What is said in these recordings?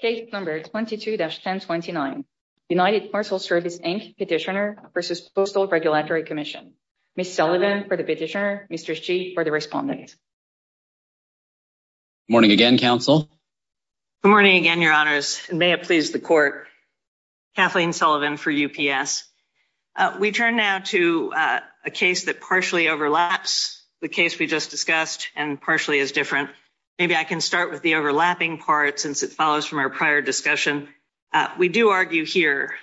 Case No. 22-1029, United Parcel Service, Inc. Petitioner v. Postal Regulatory Commission. Ms. Sullivan for the petitioner, Mr. Shih for the respondent. Morning again, Counsel. Good morning again, Your Honors, and may it please the Court. Kathleen Sullivan for UPS. We turn now to a case that partially overlaps the case we just discussed and partially is from our prior discussion. We do argue here,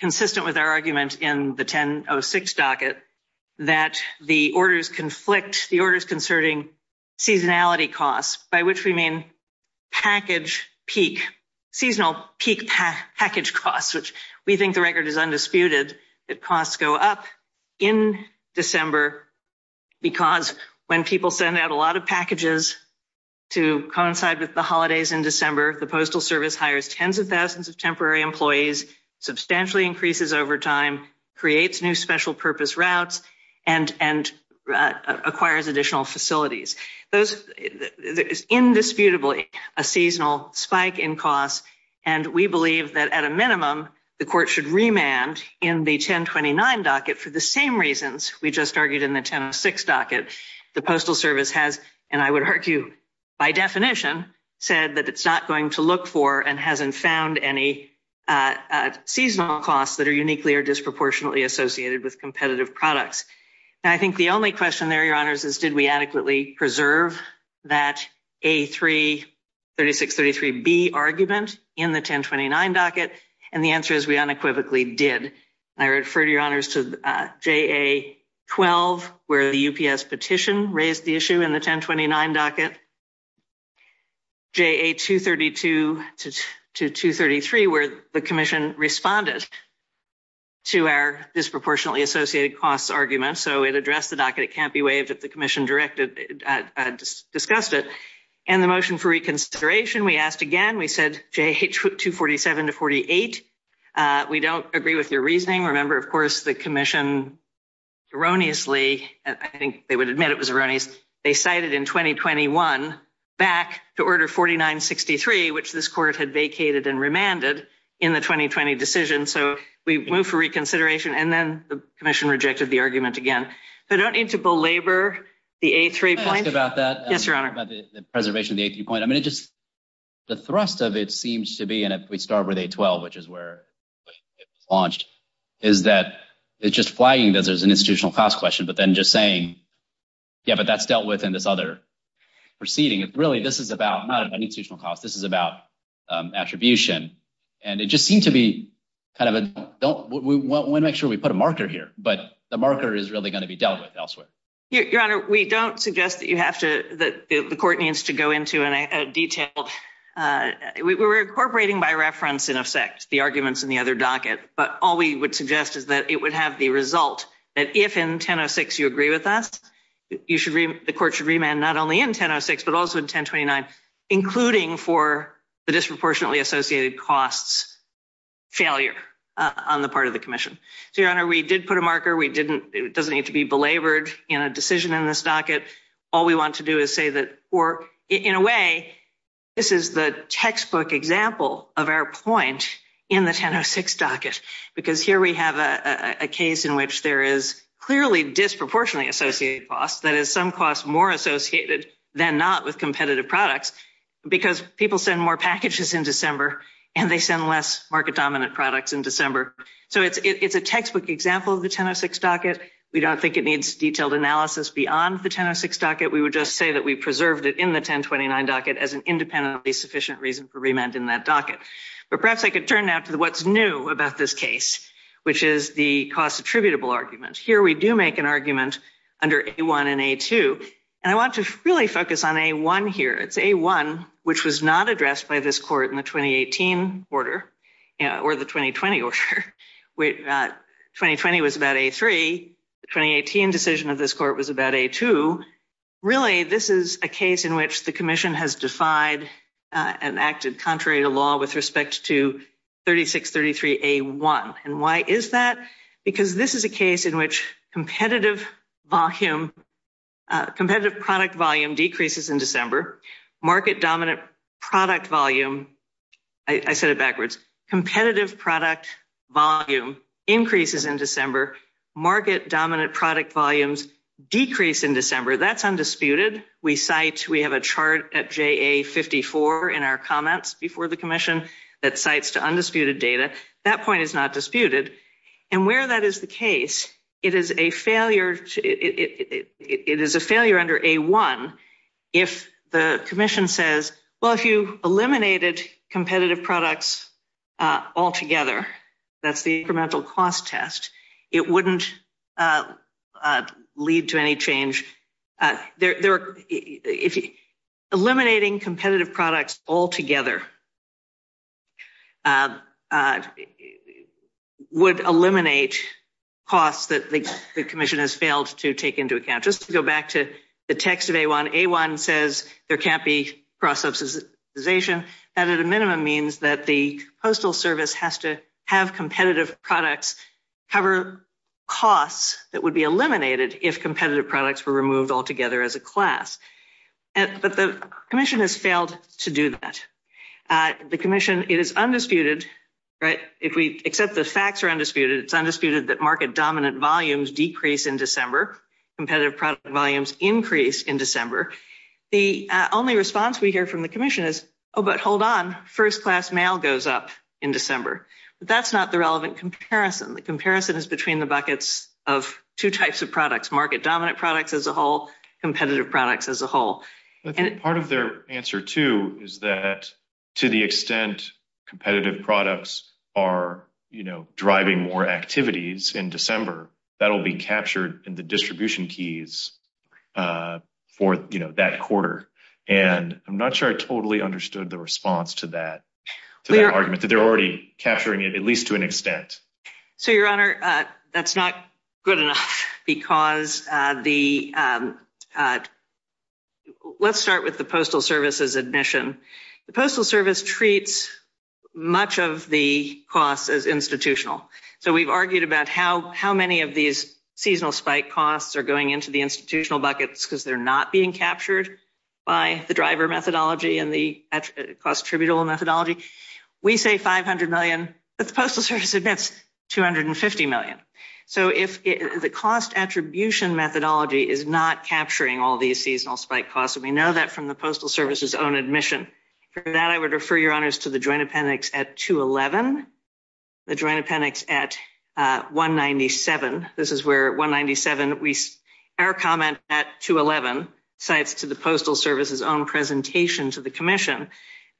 consistent with our argument in the 1006 docket, that the orders conflict, the orders concerning seasonality costs, by which we mean package peak, seasonal peak package costs, which we think the record is undisputed, that costs go up in December because when people send out a lot of packages to coincide with the holidays in December, the Postal Service hires tens of thousands of temporary employees, substantially increases overtime, creates new special purpose routes, and acquires additional facilities. Those, there is indisputably a seasonal spike in costs, and we believe that at a minimum, the Court should remand in the 1029 docket for the same reasons we just argued in the 1006 docket. The Postal Service has, and I would argue by definition, said that it is not going to look for and has not found any seasonal costs that are uniquely or disproportionately associated with competitive products. I think the only question there, Your Honors, is did we adequately preserve that A3-3633B argument in the 1029 docket, and the answer is we unequivocally did. I refer, Your Honors, to JA-12, where the UPS petition raised the issue in the 1029 docket, JA-232 to 233, where the Commission responded to our disproportionately associated costs argument, so it addressed the docket. It can't be waived if the Commission discussed it. In the motion for reconsideration, we asked again. We said JA-247 to 48. We don't agree with your reasoning. Remember, of course, the Commission erroneously, I think they would admit it was erroneous, they cited in 2021 back to Order 4963, which this Court had vacated and remanded in the 2020 decision, so we moved for reconsideration, and then the Commission rejected the argument again. I don't need to belabor the A3 point. Can I ask about that? Yes, Your Honor. About the preservation of the A3 point. I mean, it just, the thrust of it seems to be, and if we start with A-12, which is where it was launched, is that it's just flagging that there's an institutional cost question, but then just saying, yeah, but that's dealt with in this other proceeding. Really, this is about, not an institutional cost, this is about attribution, and it just seemed to be kind of a, don't, we want to make sure we put a marker here, but the marker is really going to be dealt with elsewhere. Your Honor, we don't suggest that you have to, that the Court needs to go into a detailed, we're incorporating by reference, in effect, the arguments in the other docket, but all we would suggest is that it would have the result that if in 10-06 you agree with us, you should, the Court should remand not only in 10-06, but also in 10-29, including for the disproportionately associated costs failure on the part of the Commission. So, Your Honor, we did put a marker. We didn't, it doesn't need to be belabored in a decision in this docket. All we want to do is say that, or, in a way, this is the textbook example of our point in the 10-06 docket, because here we have a case in which there is clearly disproportionately associated cost, that is, some costs more associated than not with competitive products, because people send more packages in December, and they send less market-dominant products in December. So, it's a textbook example of the 10-06 docket. We don't think it needs detailed analysis beyond the 10-06 docket. We would just say that we preserved it in the 10-29 docket as an independently sufficient reason for remand in that docket. But perhaps I could turn now to what's new about this case, which is the cost attributable argument. Here we do make an argument under A-1 and A-2, and I want to really focus on A-1 here. It's A-1, which was not addressed by this Court in the 2018 order or the 2020 order. 2020 was about A-3. The 2018 decision of this Court was about A-2. Really, this is a case in which the Commission has defied and acted contrary to law with respect to 3633A-1. And why is that? Because this is a case in which competitive product volume decreases in December. I said it backwards. Competitive product volume increases in December. Market-dominant product volumes decrease in December. That's undisputed. We have a chart at JA-54 in our comments before the Commission that cites to undisputed data. That point is not disputed. And where that is the case, it is a failure under A-1 if the Commission says, well, if you eliminate competitive products altogether, that's the incremental cost test, it wouldn't lead to any change. Eliminating competitive products altogether would eliminate costs that the Commission has failed to take into account. Just to go back to text of A-1, A-1 says there can't be cross-subsidization. That, at a minimum, means that the Postal Service has to have competitive products cover costs that would be eliminated if competitive products were removed altogether as a class. But the Commission has failed to do that. The Commission, it is undisputed, except the facts are undisputed, it's undisputed that market-dominant volumes decrease in December, competitive product volumes increase in December. The only response we hear from the Commission is, oh, but hold on, first-class mail goes up in December. But that's not the relevant comparison. The comparison is between the buckets of two types of products, market-dominant products as a whole, competitive products as a whole. I think part of their answer, too, is that to the extent competitive products are, you know, driving more activities in December, that will be captured in the distribution keys for, you know, that quarter. And I'm not sure I totally understood the response to that, to that argument, that they're already capturing it, at least to an extent. So, Your Honor, that's not good enough because the, let's start with the Postal Service's admission. The Postal Service treats much of the costs as institutional. So we've argued about how many of these seasonal spike costs are going into the institutional buckets because they're not being captured by the driver methodology and the cost attributable methodology. We say $500 million, but the Postal Service admits $250 million. So if the cost attribution methodology is not capturing all these seasonal spike costs, and we know that from the Postal Service's own admission, for that, I would refer Your Honors to the Joint Appendix at 2-11, the Joint Appendix at 197. This is where 197, our comment at 2-11, cites to the Postal Service's own presentation to the Commission.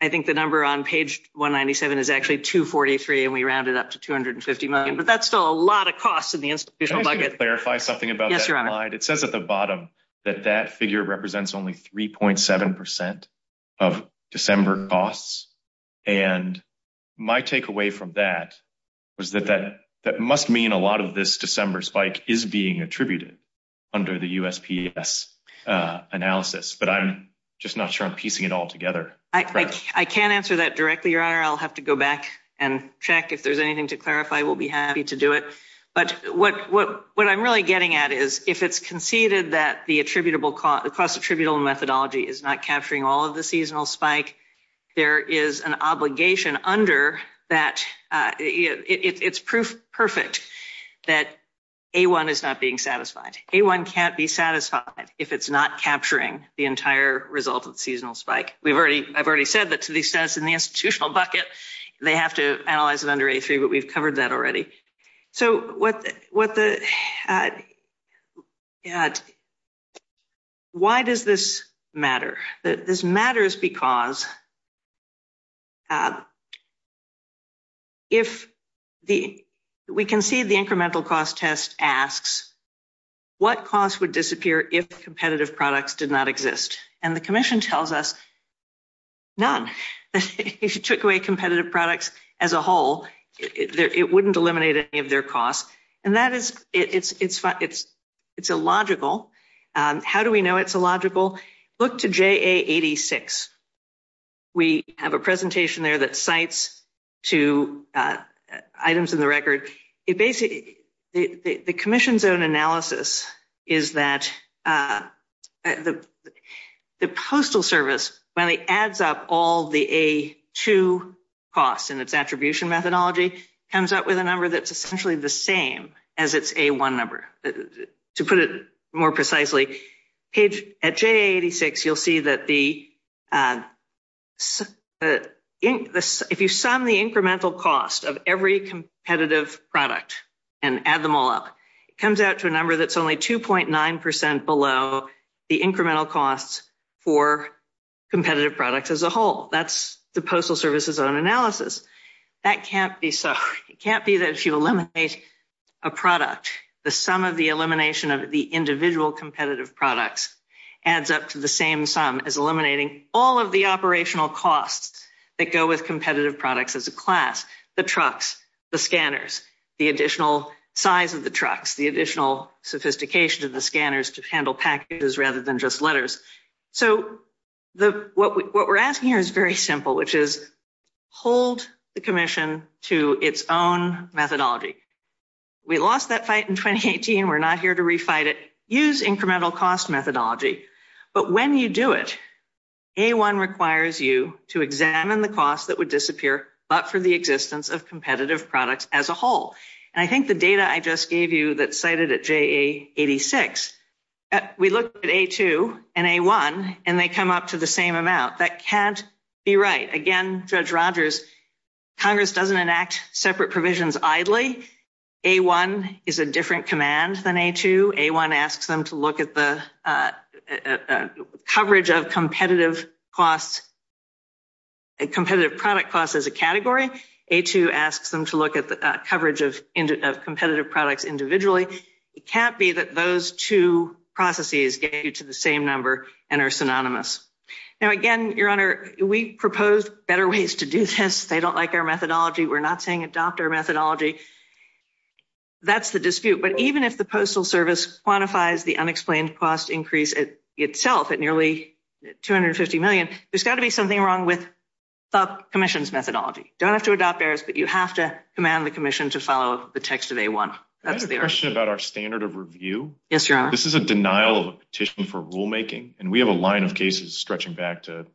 I think the number on page 197 is actually 243, and we rounded up to $250 million. But that's still a lot of costs in the institutional bucket. It says at the bottom that that figure represents only 3.7% of December costs. And my takeaway from that was that that must mean a lot of this December spike is being attributed under the USPS analysis. But I'm just not sure I'm piecing it all together. I can't answer that directly, Your Honor. I'll have to go back and check. If there's anything to clarify, we'll be happy to do it. But what I'm really getting at is if it's conceded that the cost attributable methodology is not capturing all of the seasonal spike, there is an obligation under that. It's proof perfect that A1 is not being satisfied. A1 can't be satisfied if it's not capturing the entire result of the seasonal spike. I've already said that to the extent in the institutional bucket, they have to analyze it under A3, but we've covered that already. So why does this matter? This matters because if we concede the incremental cost test asks what costs would disappear if competitive products did not exist? And the commission tells us none. If you took away competitive products as a whole, it wouldn't eliminate any of their costs. And that is, it's illogical. How do we know it's illogical? Look to JA86. We have a presentation there that cites two The Postal Service, when it adds up all the A2 costs in its attribution methodology, comes up with a number that's essentially the same as its A1 number. To put it more precisely, at JA86, you'll see that if you sum the incremental cost of every competitive product and add them all up, it comes out to a number that's only 2.9% below the incremental costs for competitive products as a whole. That's the Postal Service's own analysis. That can't be so. It can't be that if you eliminate a product, the sum of the elimination of the individual competitive products adds up to the same sum as eliminating all of the operational costs that go with competitive products as a class. The trucks, the scanners, the additional size of the trucks, the additional sophistication of the scanners to handle packages rather than just letters. So what we're asking here is very simple, which is hold the commission to its own methodology. We lost that fight in 2018. We're not here to refight it. Use incremental cost methodology. But when you do it, A1 requires you to examine the cost that would disappear but for the existence of competitive products as a whole. And I think the data I just gave you that's cited at JA86, we looked at A2 and A1 and they come up to the same amount. That can't be right. Again, Judge Rogers, Congress doesn't enact separate provisions idly. A1 is a different command than A2. A1 asks them to look at the coverage of competitive costs, competitive product costs as a category. A2 asks them to look at the coverage of competitive products individually. It can't be that those two processes get you to the same number and are synonymous. Now, again, Your Honor, we proposed better ways to do this. They don't like our methodology. We're not saying adopt our methodology. That's the dispute. But even if the Postal Service quantifies the unexplained cost increase itself at nearly $250 million, there's got to be something wrong with the commission's methodology. You don't have to adopt theirs, but you have to command the commission to follow the text of A1. That's the urge. Can I ask a question about our standard of review? Yes, Your Honor. This is a denial of a petition for rulemaking. And we have a line of cases stretching back to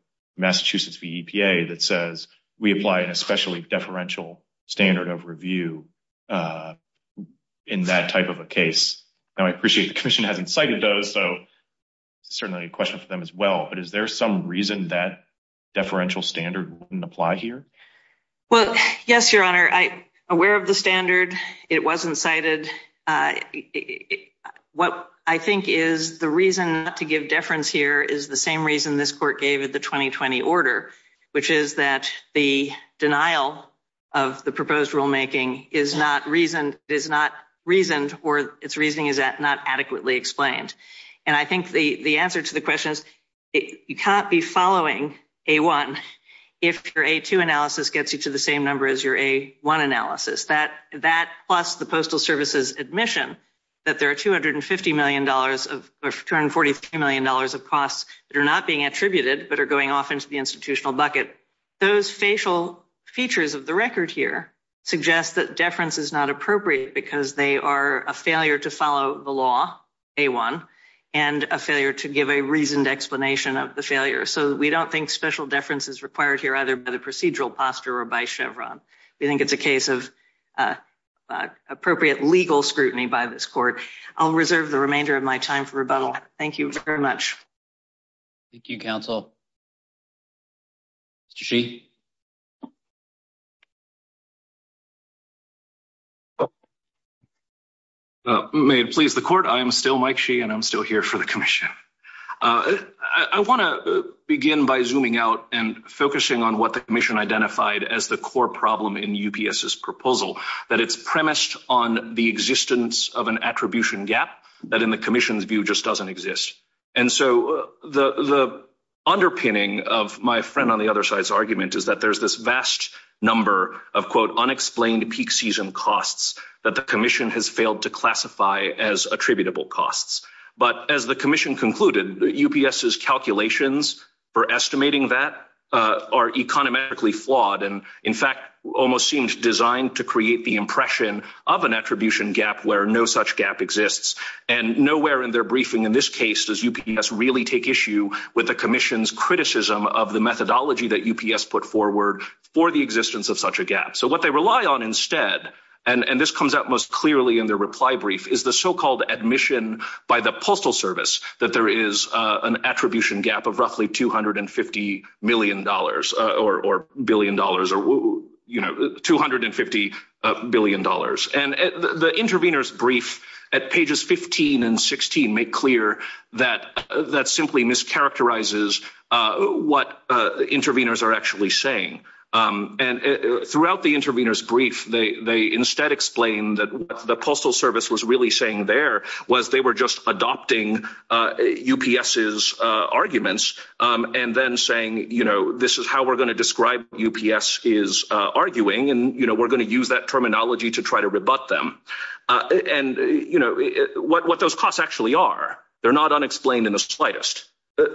we apply an especially deferential standard of review in that type of a case. Now, I appreciate the commission hasn't cited those, so certainly a question for them as well. But is there some reason that deferential standard wouldn't apply here? Well, yes, Your Honor. I'm aware of the standard. It wasn't cited. What I think is the reason not give deference here is the same reason this Court gave at the 2020 order, which is that the denial of the proposed rulemaking is not reasoned or its reasoning is not adequately explained. And I think the answer to the question is you can't be following A1 if your A2 analysis gets you to the same number as your A1 analysis. That plus the Postal Service's admission that there are $250 million or $243 million of costs that are not being attributed but are going off into the institutional bucket. Those facial features of the record here suggest that deference is not appropriate because they are a failure to follow the law, A1, and a failure to give a reasoned explanation of the failure. So we don't think special deference is required here either by the procedural posture or by Chevron. We think it's a case of appropriate legal scrutiny by this Court. I'll reserve the remainder of my time for rebuttal. Thank you very much. Thank you, Counsel. Mr. Sheehy? May it please the Court, I am still Mike Sheehy and I'm still here for the Commission. I want to begin by zooming out and focusing on what the Commission identified as the core problem in UPS's proposal, that it's premised on the existence of an attribution gap that in the Commission's view just doesn't exist. And so the underpinning of my friend on the other side's argument is that there's this vast number of, quote, unexplained peak season costs that the Commission has failed to classify as attributable costs. But as the Commission concluded, UPS's almost seems designed to create the impression of an attribution gap where no such gap exists. And nowhere in their briefing in this case does UPS really take issue with the Commission's criticism of the methodology that UPS put forward for the existence of such a gap. So what they rely on instead, and this comes out most clearly in their reply brief, is the so-called admission by the Postal Service that there is an attribution gap of roughly $250 million or billion dollars or, you know, $250 billion. And the intervenors' brief at pages 15 and 16 make clear that that simply mischaracterizes what intervenors are actually saying. And throughout the intervenors' brief, they instead explain that what the Postal Service was really saying there was they were just adopting UPS's arguments and then saying, you know, this is how we're going to describe what UPS is arguing and, you know, we're going to use that terminology to try to rebut them. And, you know, what those costs actually are, they're not unexplained in the slightest.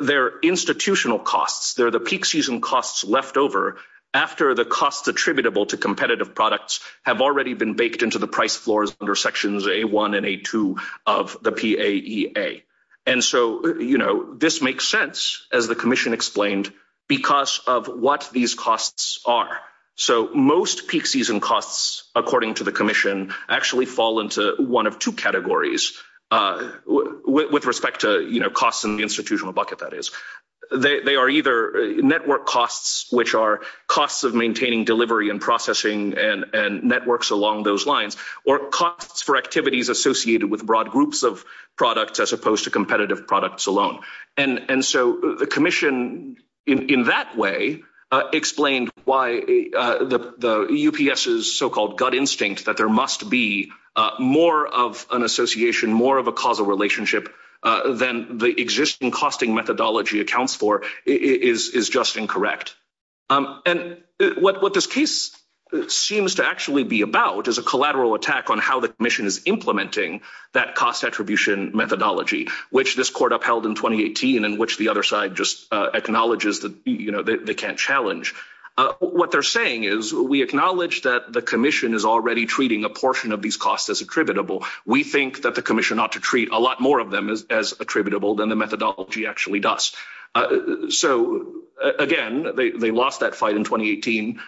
They're institutional costs. They're the peak season costs left over after the costs attributable to competitive products have already been baked into the price floors under Sections A1 and A2 of the PAEA. And so, you know, this makes sense, as the Commission explained, because of what these costs are. So most peak season costs, according to the Commission, actually fall into one of two categories with respect to, you know, costs in the institutional bucket, that is. They are either network costs, which are costs of maintaining delivery and processing and networks along those lines, or costs for activities associated with broad groups of products as opposed to competitive products alone. And so the Commission, in that way, explained why the UPS's so-called gut instinct that there must be more of an association, more of a causal relationship than the existing costing methodology accounts for is just incorrect. And what this case seems to actually be about is a collateral attack on how the Commission is implementing that cost attribution methodology, which this Court upheld in 2018 and which the other side just acknowledges that, you know, they can't challenge. What they're saying is we acknowledge that the Commission is already treating a portion of these costs as attributable. We think that the Commission ought to treat a lot more of them as attributable than the they lost that fight in 2018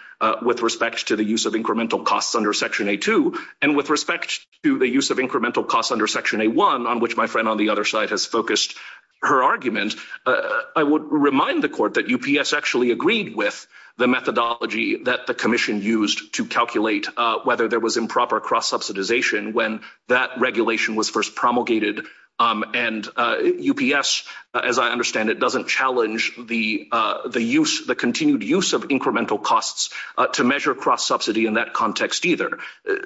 with respect to the use of incremental costs under Section A2. And with respect to the use of incremental costs under Section A1, on which my friend on the other side has focused her argument, I would remind the Court that UPS actually agreed with the methodology that the Commission used to calculate whether there was improper cross-subsidization when that regulation was first promulgated. And UPS, as I understand it, doesn't challenge the use, the continued use of incremental costs to measure cross-subsidy in that context either.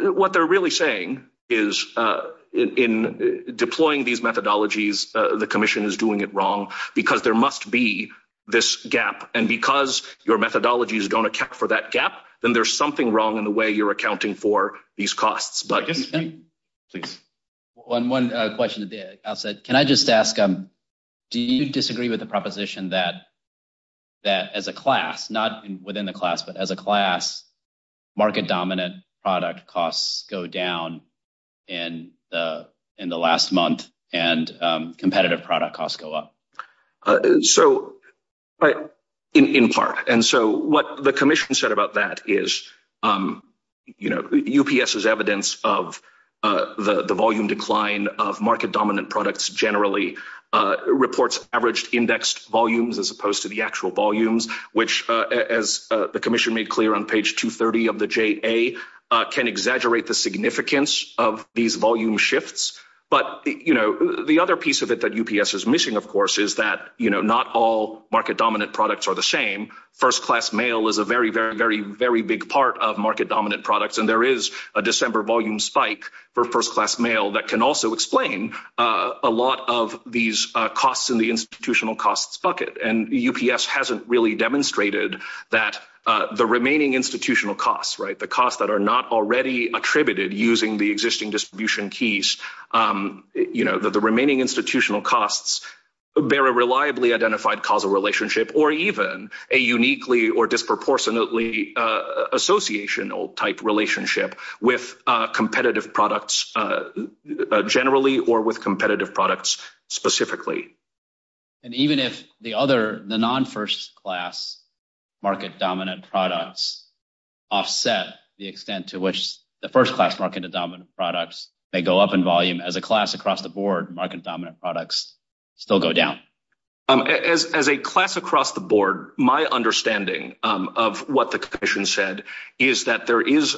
What they're really saying is in deploying these methodologies, the Commission is doing it wrong because there must be this gap. And because your methodologies don't account for that gap, then there's something wrong in the way you're accounting for these costs. One question at the outset. Can I just ask, do you disagree with the proposition that that as a class, not within the class, but as a class, market-dominant product costs go down in the last month and competitive product costs go up? So in part. And so what the Commission said about that is, you know, UPS's evidence of the volume decline of market-dominant products generally reports averaged indexed volumes as opposed to the actual volumes, which, as the Commission made clear on page 230 of the JA, can exaggerate the significance of these volume shifts. But, you know, the other piece of it that UPS is missing, of course, is that, you know, not all market-dominant products are the same. First class mail is a very, very, very, very big part of market-dominant products. And there is a December volume spike for first class mail that can also explain a lot of these costs in the institutional costs bucket. And UPS hasn't really demonstrated that the remaining institutional costs, right, the costs that are not already attributed using the existing distribution keys, you know, that the remaining institutional costs bear a reliably identified causal relationship or even a uniquely or associational type relationship with competitive products generally or with competitive products specifically. And even if the other, the non-first class market-dominant products offset the extent to which the first class market-dominant products may go up in volume, as a class across the board market-dominant products still go down. As a class across the board, my understanding of what the commission said is that there is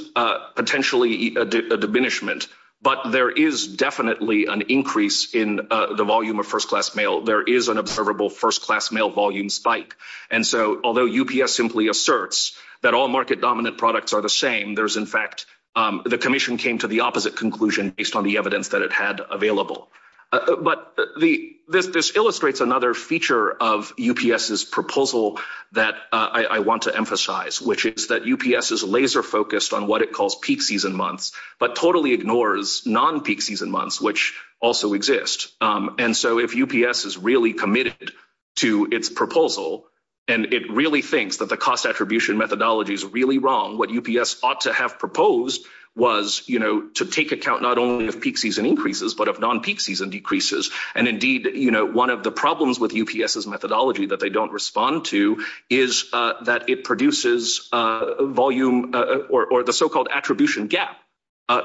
potentially a diminishment, but there is definitely an increase in the volume of first class mail. There is an observable first class mail volume spike. And so although UPS simply asserts that all market-dominant products are the same, there's in fact, the commission came to the opposite conclusion based on the evidence that it had available. But this illustrates another feature of UPS's proposal that I want to emphasize, which is that UPS is laser focused on what it calls peak season months, but totally ignores non-peak season months, which also exist. And so if UPS is really committed to its proposal, and it really thinks that the cost attribution methodology is really wrong, what UPS ought to have proposed was, you know, to take account not only of peak season increases, but of non-peak season decreases. And indeed, you know, one of the problems with UPS's methodology that they don't respond to is that it produces volume or the so-called attribution gap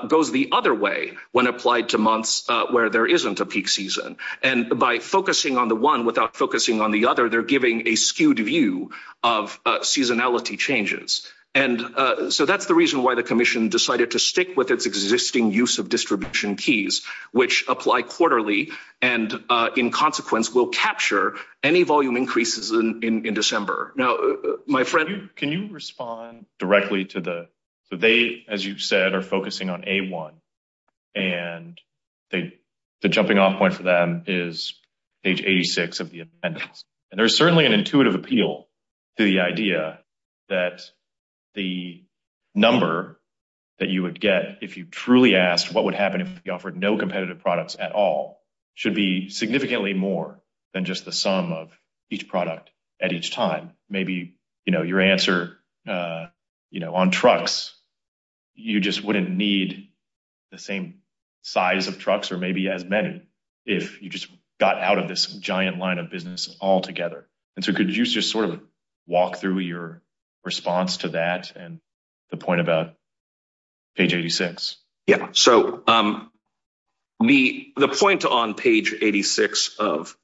goes the other way when applied to months where there isn't a peak season. And by focusing on the one without focusing on the other, they're giving a skewed view of seasonality changes. And so that's the reason why the commission decided to stick with its existing use of distribution keys, which apply quarterly, and in consequence, will capture any volume increases in December. Now, my friend... Can you respond directly to the... So they, as you said, are focusing on A1, and the jumping off point for them is page 86 of the appendix. And there's certainly an intuitive appeal to the idea that the number that you would get if you truly asked what would happen if we offered no competitive products at all should be significantly more than just the sum of each product at each time. Maybe, you know, your answer, you know, on trucks, you just wouldn't need the same size of trucks, or maybe as many, if you just got out of this giant line of business altogether. And so could you just sort of walk through your response to that and the point about page 86? Yeah, so the point on page 86 of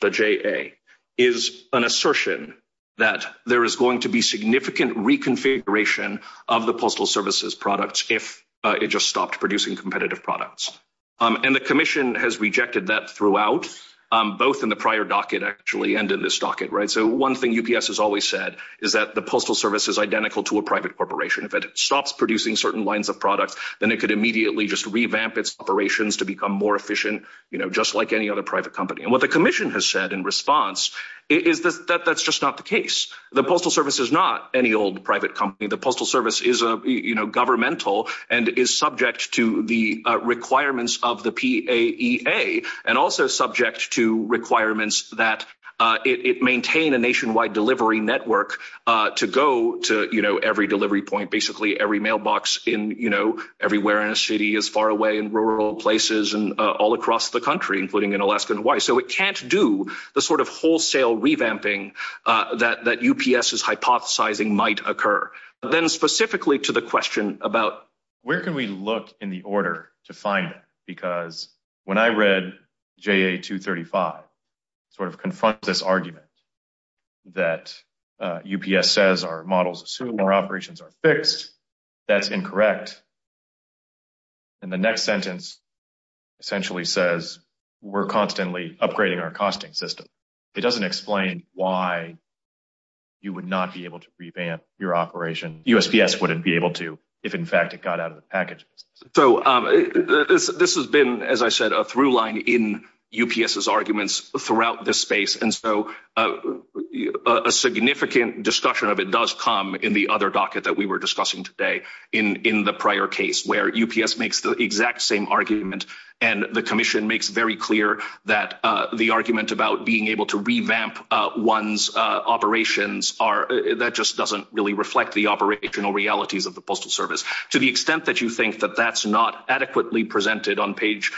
the JA is an assertion that there is going to be significant reconfiguration of the postal services products if it just stopped producing competitive products. And the commission has rejected that throughout, both in the prior docket, actually, and in this docket, right? So one thing UPS has always said is that the postal service is identical to a private corporation. If it stops producing certain lines of products, then it could immediately just revamp its operations to become more efficient, you know, just like any other private company. And what the commission has said in response is that that's just not the case. The postal service is not any old private company. The postal service is, you know, governmental and is subject to the requirements of the PAEA, and also subject to requirements that it maintain a nationwide delivery network to go to, you know, every delivery point, basically every mailbox in, you know, everywhere in a city as far away in rural places and all across the country, including in Alaska and Hawaii. So it can't do the sort of specifically to the question about where can we look in the order to find them? Because when I read JA-235, sort of confront this argument that UPS says our models assume our operations are fixed. That's incorrect. And the next sentence essentially says we're constantly upgrading our costing system. It doesn't explain why you would not be able to revamp your operation. USPS wouldn't be able to if, in fact, it got out of the package. So this has been, as I said, a through line in UPS's arguments throughout this space. And so a significant discussion of it does come in the other docket that we were discussing today in the prior case where UPS makes the exact same argument. And the commission makes very clear that the argument about being able to revamp one's operations are, that just doesn't really reflect the operational realities of the Postal Service. To the extent that you think that that's not adequately presented on page,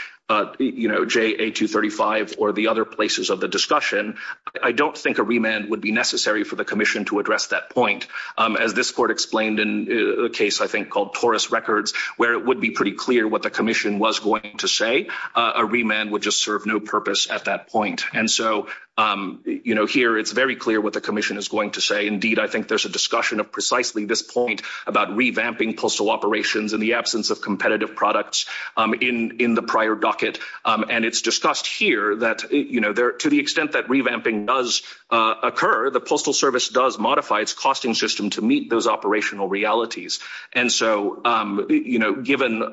you know, JA-235 or the other places of the discussion, I don't think a remand would be necessary for the commission to address that point. As this court explained in a case, I think, called Taurus Records, where it would be pretty clear what the commission was going to say. A remand would just serve no purpose at that point. And so, you know, here it's very clear what the commission is going to say. Indeed, I think there's a discussion of precisely this point about revamping postal operations in the absence of competitive products in the prior docket. And it's discussed here that, you know, to the extent that revamping does occur, the Postal Service does modify its costing system to meet those operational realities. And so, you know, given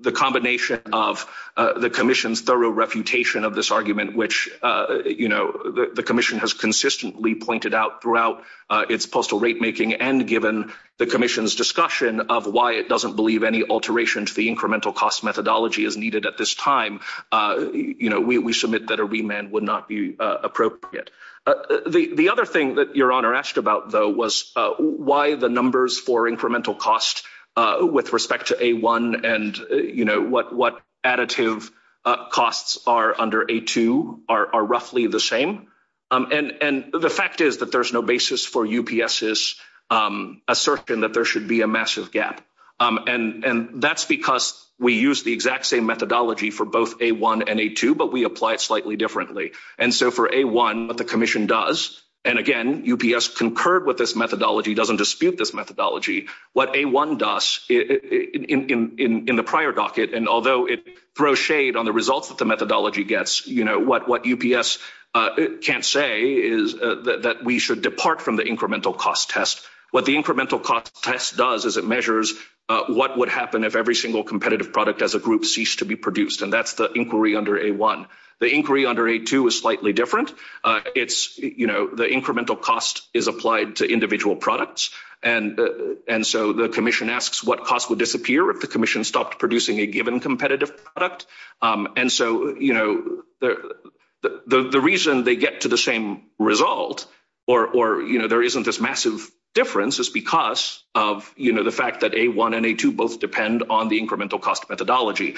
the combination of the commission's thorough refutation of this argument, which, you know, the commission has consistently pointed out throughout its postal rate making, and given the commission's discussion of why it doesn't believe any alteration to the incremental cost methodology is needed at this time, you know, we submit that remand would not be appropriate. The other thing that Your Honor asked about, though, was why the numbers for incremental cost with respect to A1 and, you know, what additive costs are under A2 are roughly the same. And the fact is that there's no basis for UPS's assertion that there should be a massive gap. And that's because we use the exact same methodology for both A1 and A2, but we apply it slightly differently. And so for A1, what the commission does, and again, UPS concurred with this methodology, doesn't dispute this methodology. What A1 does in the prior docket, and although it throws shade on the results that the methodology gets, you know, what UPS can't say is that we should depart from the incremental cost test. What the incremental cost test does is it measures what would happen if every single competitive product as a group ceased to be The inquiry under A2 is slightly different. It's, you know, the incremental cost is applied to individual products. And so the commission asks what cost would disappear if the commission stopped producing a given competitive product. And so, you know, the reason they get to the same result or, you know, there isn't this massive difference is because of, you know, the fact that A1 and A2 both depend on the incremental cost methodology.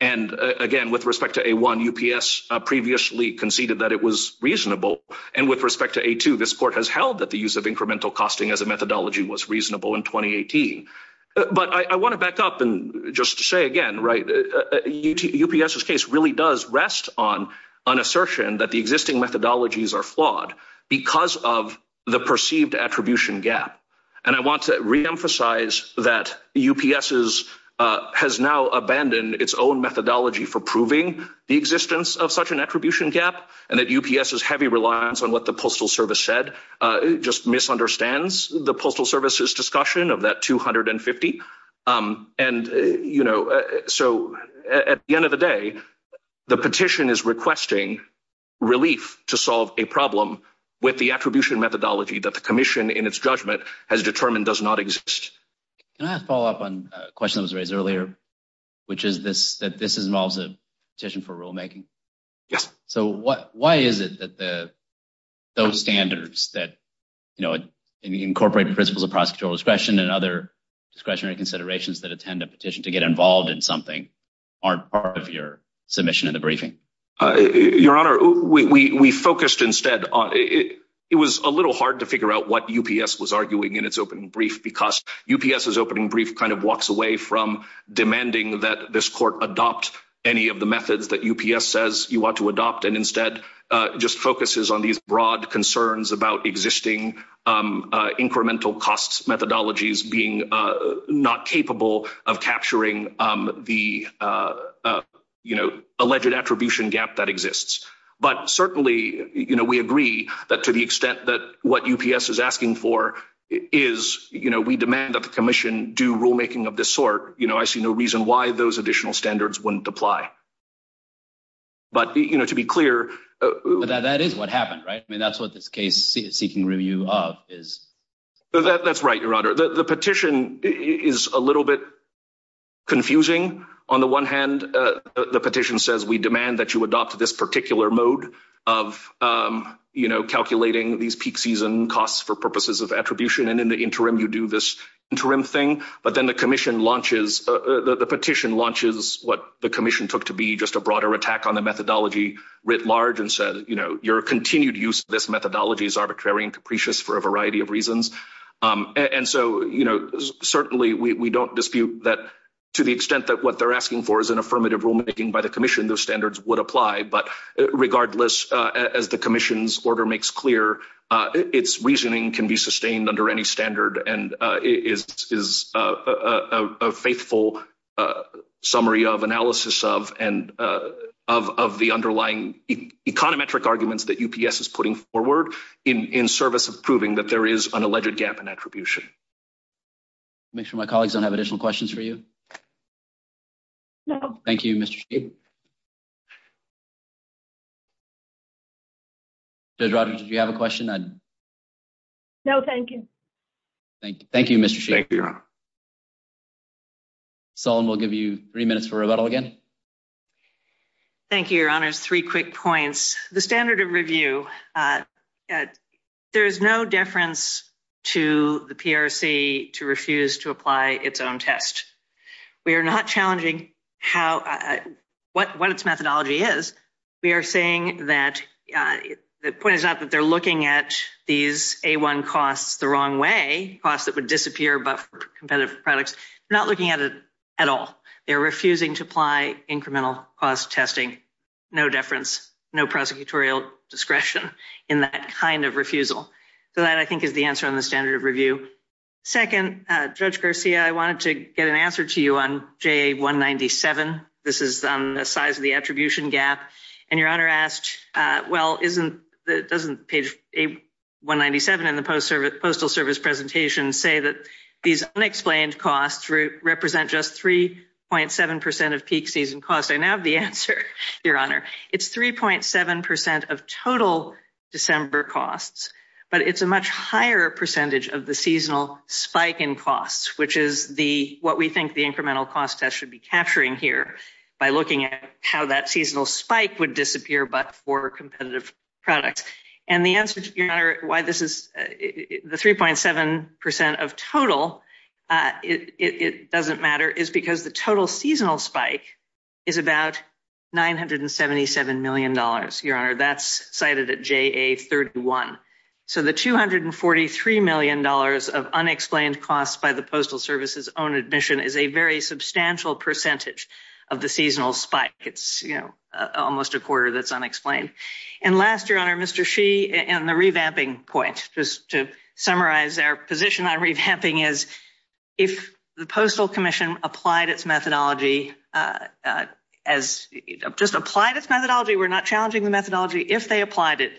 And again, with respect to A1, UPS previously conceded that it was reasonable. And with respect to A2, this court has held that the use of incremental costing as a methodology was reasonable in 2018. But I want to back up and just say again, right, UPS's case really does rest on an assertion that the existing methodologies are flawed because of the perceived attribution gap. And I want to reemphasize that UPS has now abandoned its own methodology for proving the existence of such an attribution gap and that UPS's heavy reliance on what the Postal Service said just misunderstands the Postal Service's discussion of that 250. And, you know, so at the end of the day, the petition is requesting relief to solve a problem with the attribution methodology that the commission in its judgment has determined does not exist. Can I follow up on a question that was raised earlier, which is that this involves a petition for rulemaking? Yes. So why is it that those standards that, you know, incorporate principles of prosecutorial discretion and other discretionary considerations that attend a petition to get involved in something aren't part of your submission in the briefing? Your Honor, we focused instead on it. It was a little hard to figure out what UPS was arguing in its opening brief because UPS's opening brief kind of walks away from demanding that this court adopt any of the methods that UPS says you want to adopt and instead just focuses on these broad concerns about existing incremental costs methodologies being not capable of capturing the, you know, alleged attribution gap that exists. But certainly, you know, we agree that to the extent that what UPS is asking for is, you know, we demand that the commission do rulemaking of this sort, you know, I see no reason why those additional standards wouldn't apply. But, you know, to be clear, that is what happened, right? I mean, that's what this case seeking review of is. That's right, Your Honor. The petition is a little bit confusing. On the one hand, the petition says we demand that you adopt this particular mode of, you know, calculating these peak season costs for purposes of attribution and in the interim you do this interim thing. But then the commission launches, the petition launches what the commission took to be just a broader attack on the methodology writ large and said, you know, your continued use of this methodology is arbitrary and capricious for a variety of reasons. And so, you know, certainly we don't dispute that to the extent that what they're asking for is an affirmative rulemaking by the commission, those standards would apply. But regardless, as the commission's order makes clear, its reasoning can be sustained under any standard and is a faithful summary of analysis of the underlying econometric arguments that UPS is putting forward in service of proving that there is an alleged gap in attribution. Make sure my colleagues don't have additional questions for you. No. Thank you, Mr. Shade. Judge Rogers, did you have a question? No, thank you. Thank you, Mr. Shade. Solon, we'll give you three minutes for rebuttal again. Thank you, your honors. Three quick points. The standard of review, there is no deference to the PRC to refuse to apply its own test. We are not challenging how, what its methodology is. We are saying that, the point is not that they're looking at these A1 costs the wrong way, costs that would disappear but for competitive products. We're not looking at it at all. They're refusing to apply incremental cost testing. No deference, no prosecutorial discretion in that kind of refusal. So that, I think, is the answer on standard of review. Second, Judge Garcia, I wanted to get an answer to you on JA-197. This is on the size of the attribution gap. And your honor asked, well, isn't, doesn't page A-197 in the Postal Service presentation say that these unexplained costs represent just 3.7% of peak season costs? I now have the answer, your honor. It's 3.7% of total December costs. But it's a higher percentage of the seasonal spike in costs, which is the, what we think the incremental cost test should be capturing here, by looking at how that seasonal spike would disappear but for competitive products. And the answer, your honor, why this is, the 3.7% of total, it doesn't matter, is because the total seasonal spike is about $977 million. Your honor, that's cited at JA-31. So the $243 million of unexplained costs by the Postal Service's own admission is a very substantial percentage of the seasonal spike. It's, you know, almost a quarter that's unexplained. And last, your honor, Mr. Sheehan, the revamping point, just to summarize our position on revamping is, if the Postal Commission applied its methodology as, just applied its methodology, we're not challenging the methodology, if they applied it,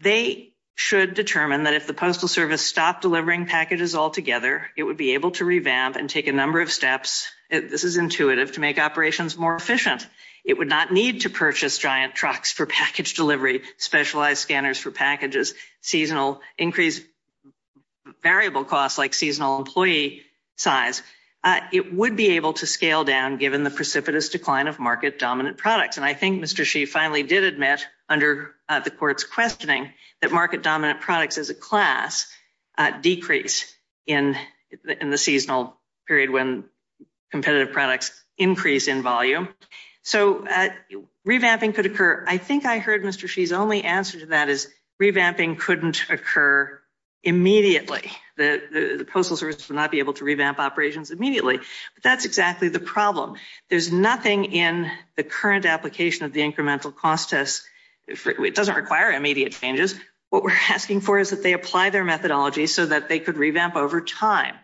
they should determine that if the Postal Service stopped delivering packages altogether, it would be able to revamp and take a number of steps, this is intuitive, to make operations more efficient. It would not need to purchase giant trucks for package delivery, specialized scanners for packages, seasonal increased variable costs like seasonal employee size. It would be able to scale down given the Mr. Sheehan finally did admit under the court's questioning that market-dominant products as a class decrease in the seasonal period when competitive products increase in volume. So revamping could occur. I think I heard Mr. Sheehan's only answer to that is revamping couldn't occur immediately. The Postal Service would not be able to revamp operations immediately. But that's exactly the problem. There's nothing in the current application of the incremental cost test, it doesn't require immediate changes, what we're asking for is that they apply their methodology so that they could revamp over time.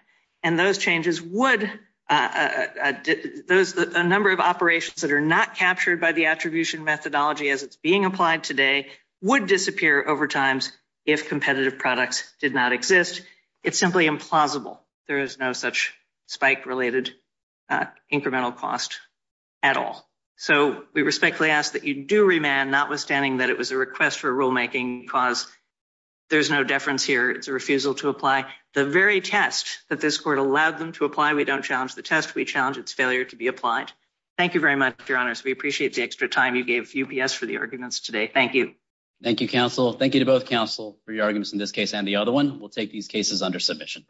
And those changes would, a number of operations that are not captured by the attribution methodology as it's being applied today would disappear over times if competitive products did not exist. It's simply implausible. There is no such spike-related incremental cost at all. So we respectfully ask that you do remand, notwithstanding that it was a request for rulemaking because there's no deference here, it's a refusal to apply. The very test that this court allowed them to apply, we don't challenge the test, we challenge its failure to be applied. Thank you very much, Your Honors. We appreciate the extra time you gave UPS for the arguments today. Thank you. Thank you, counsel. Thank you to both counsel for your arguments in this case and the other one. We'll take these cases under submission.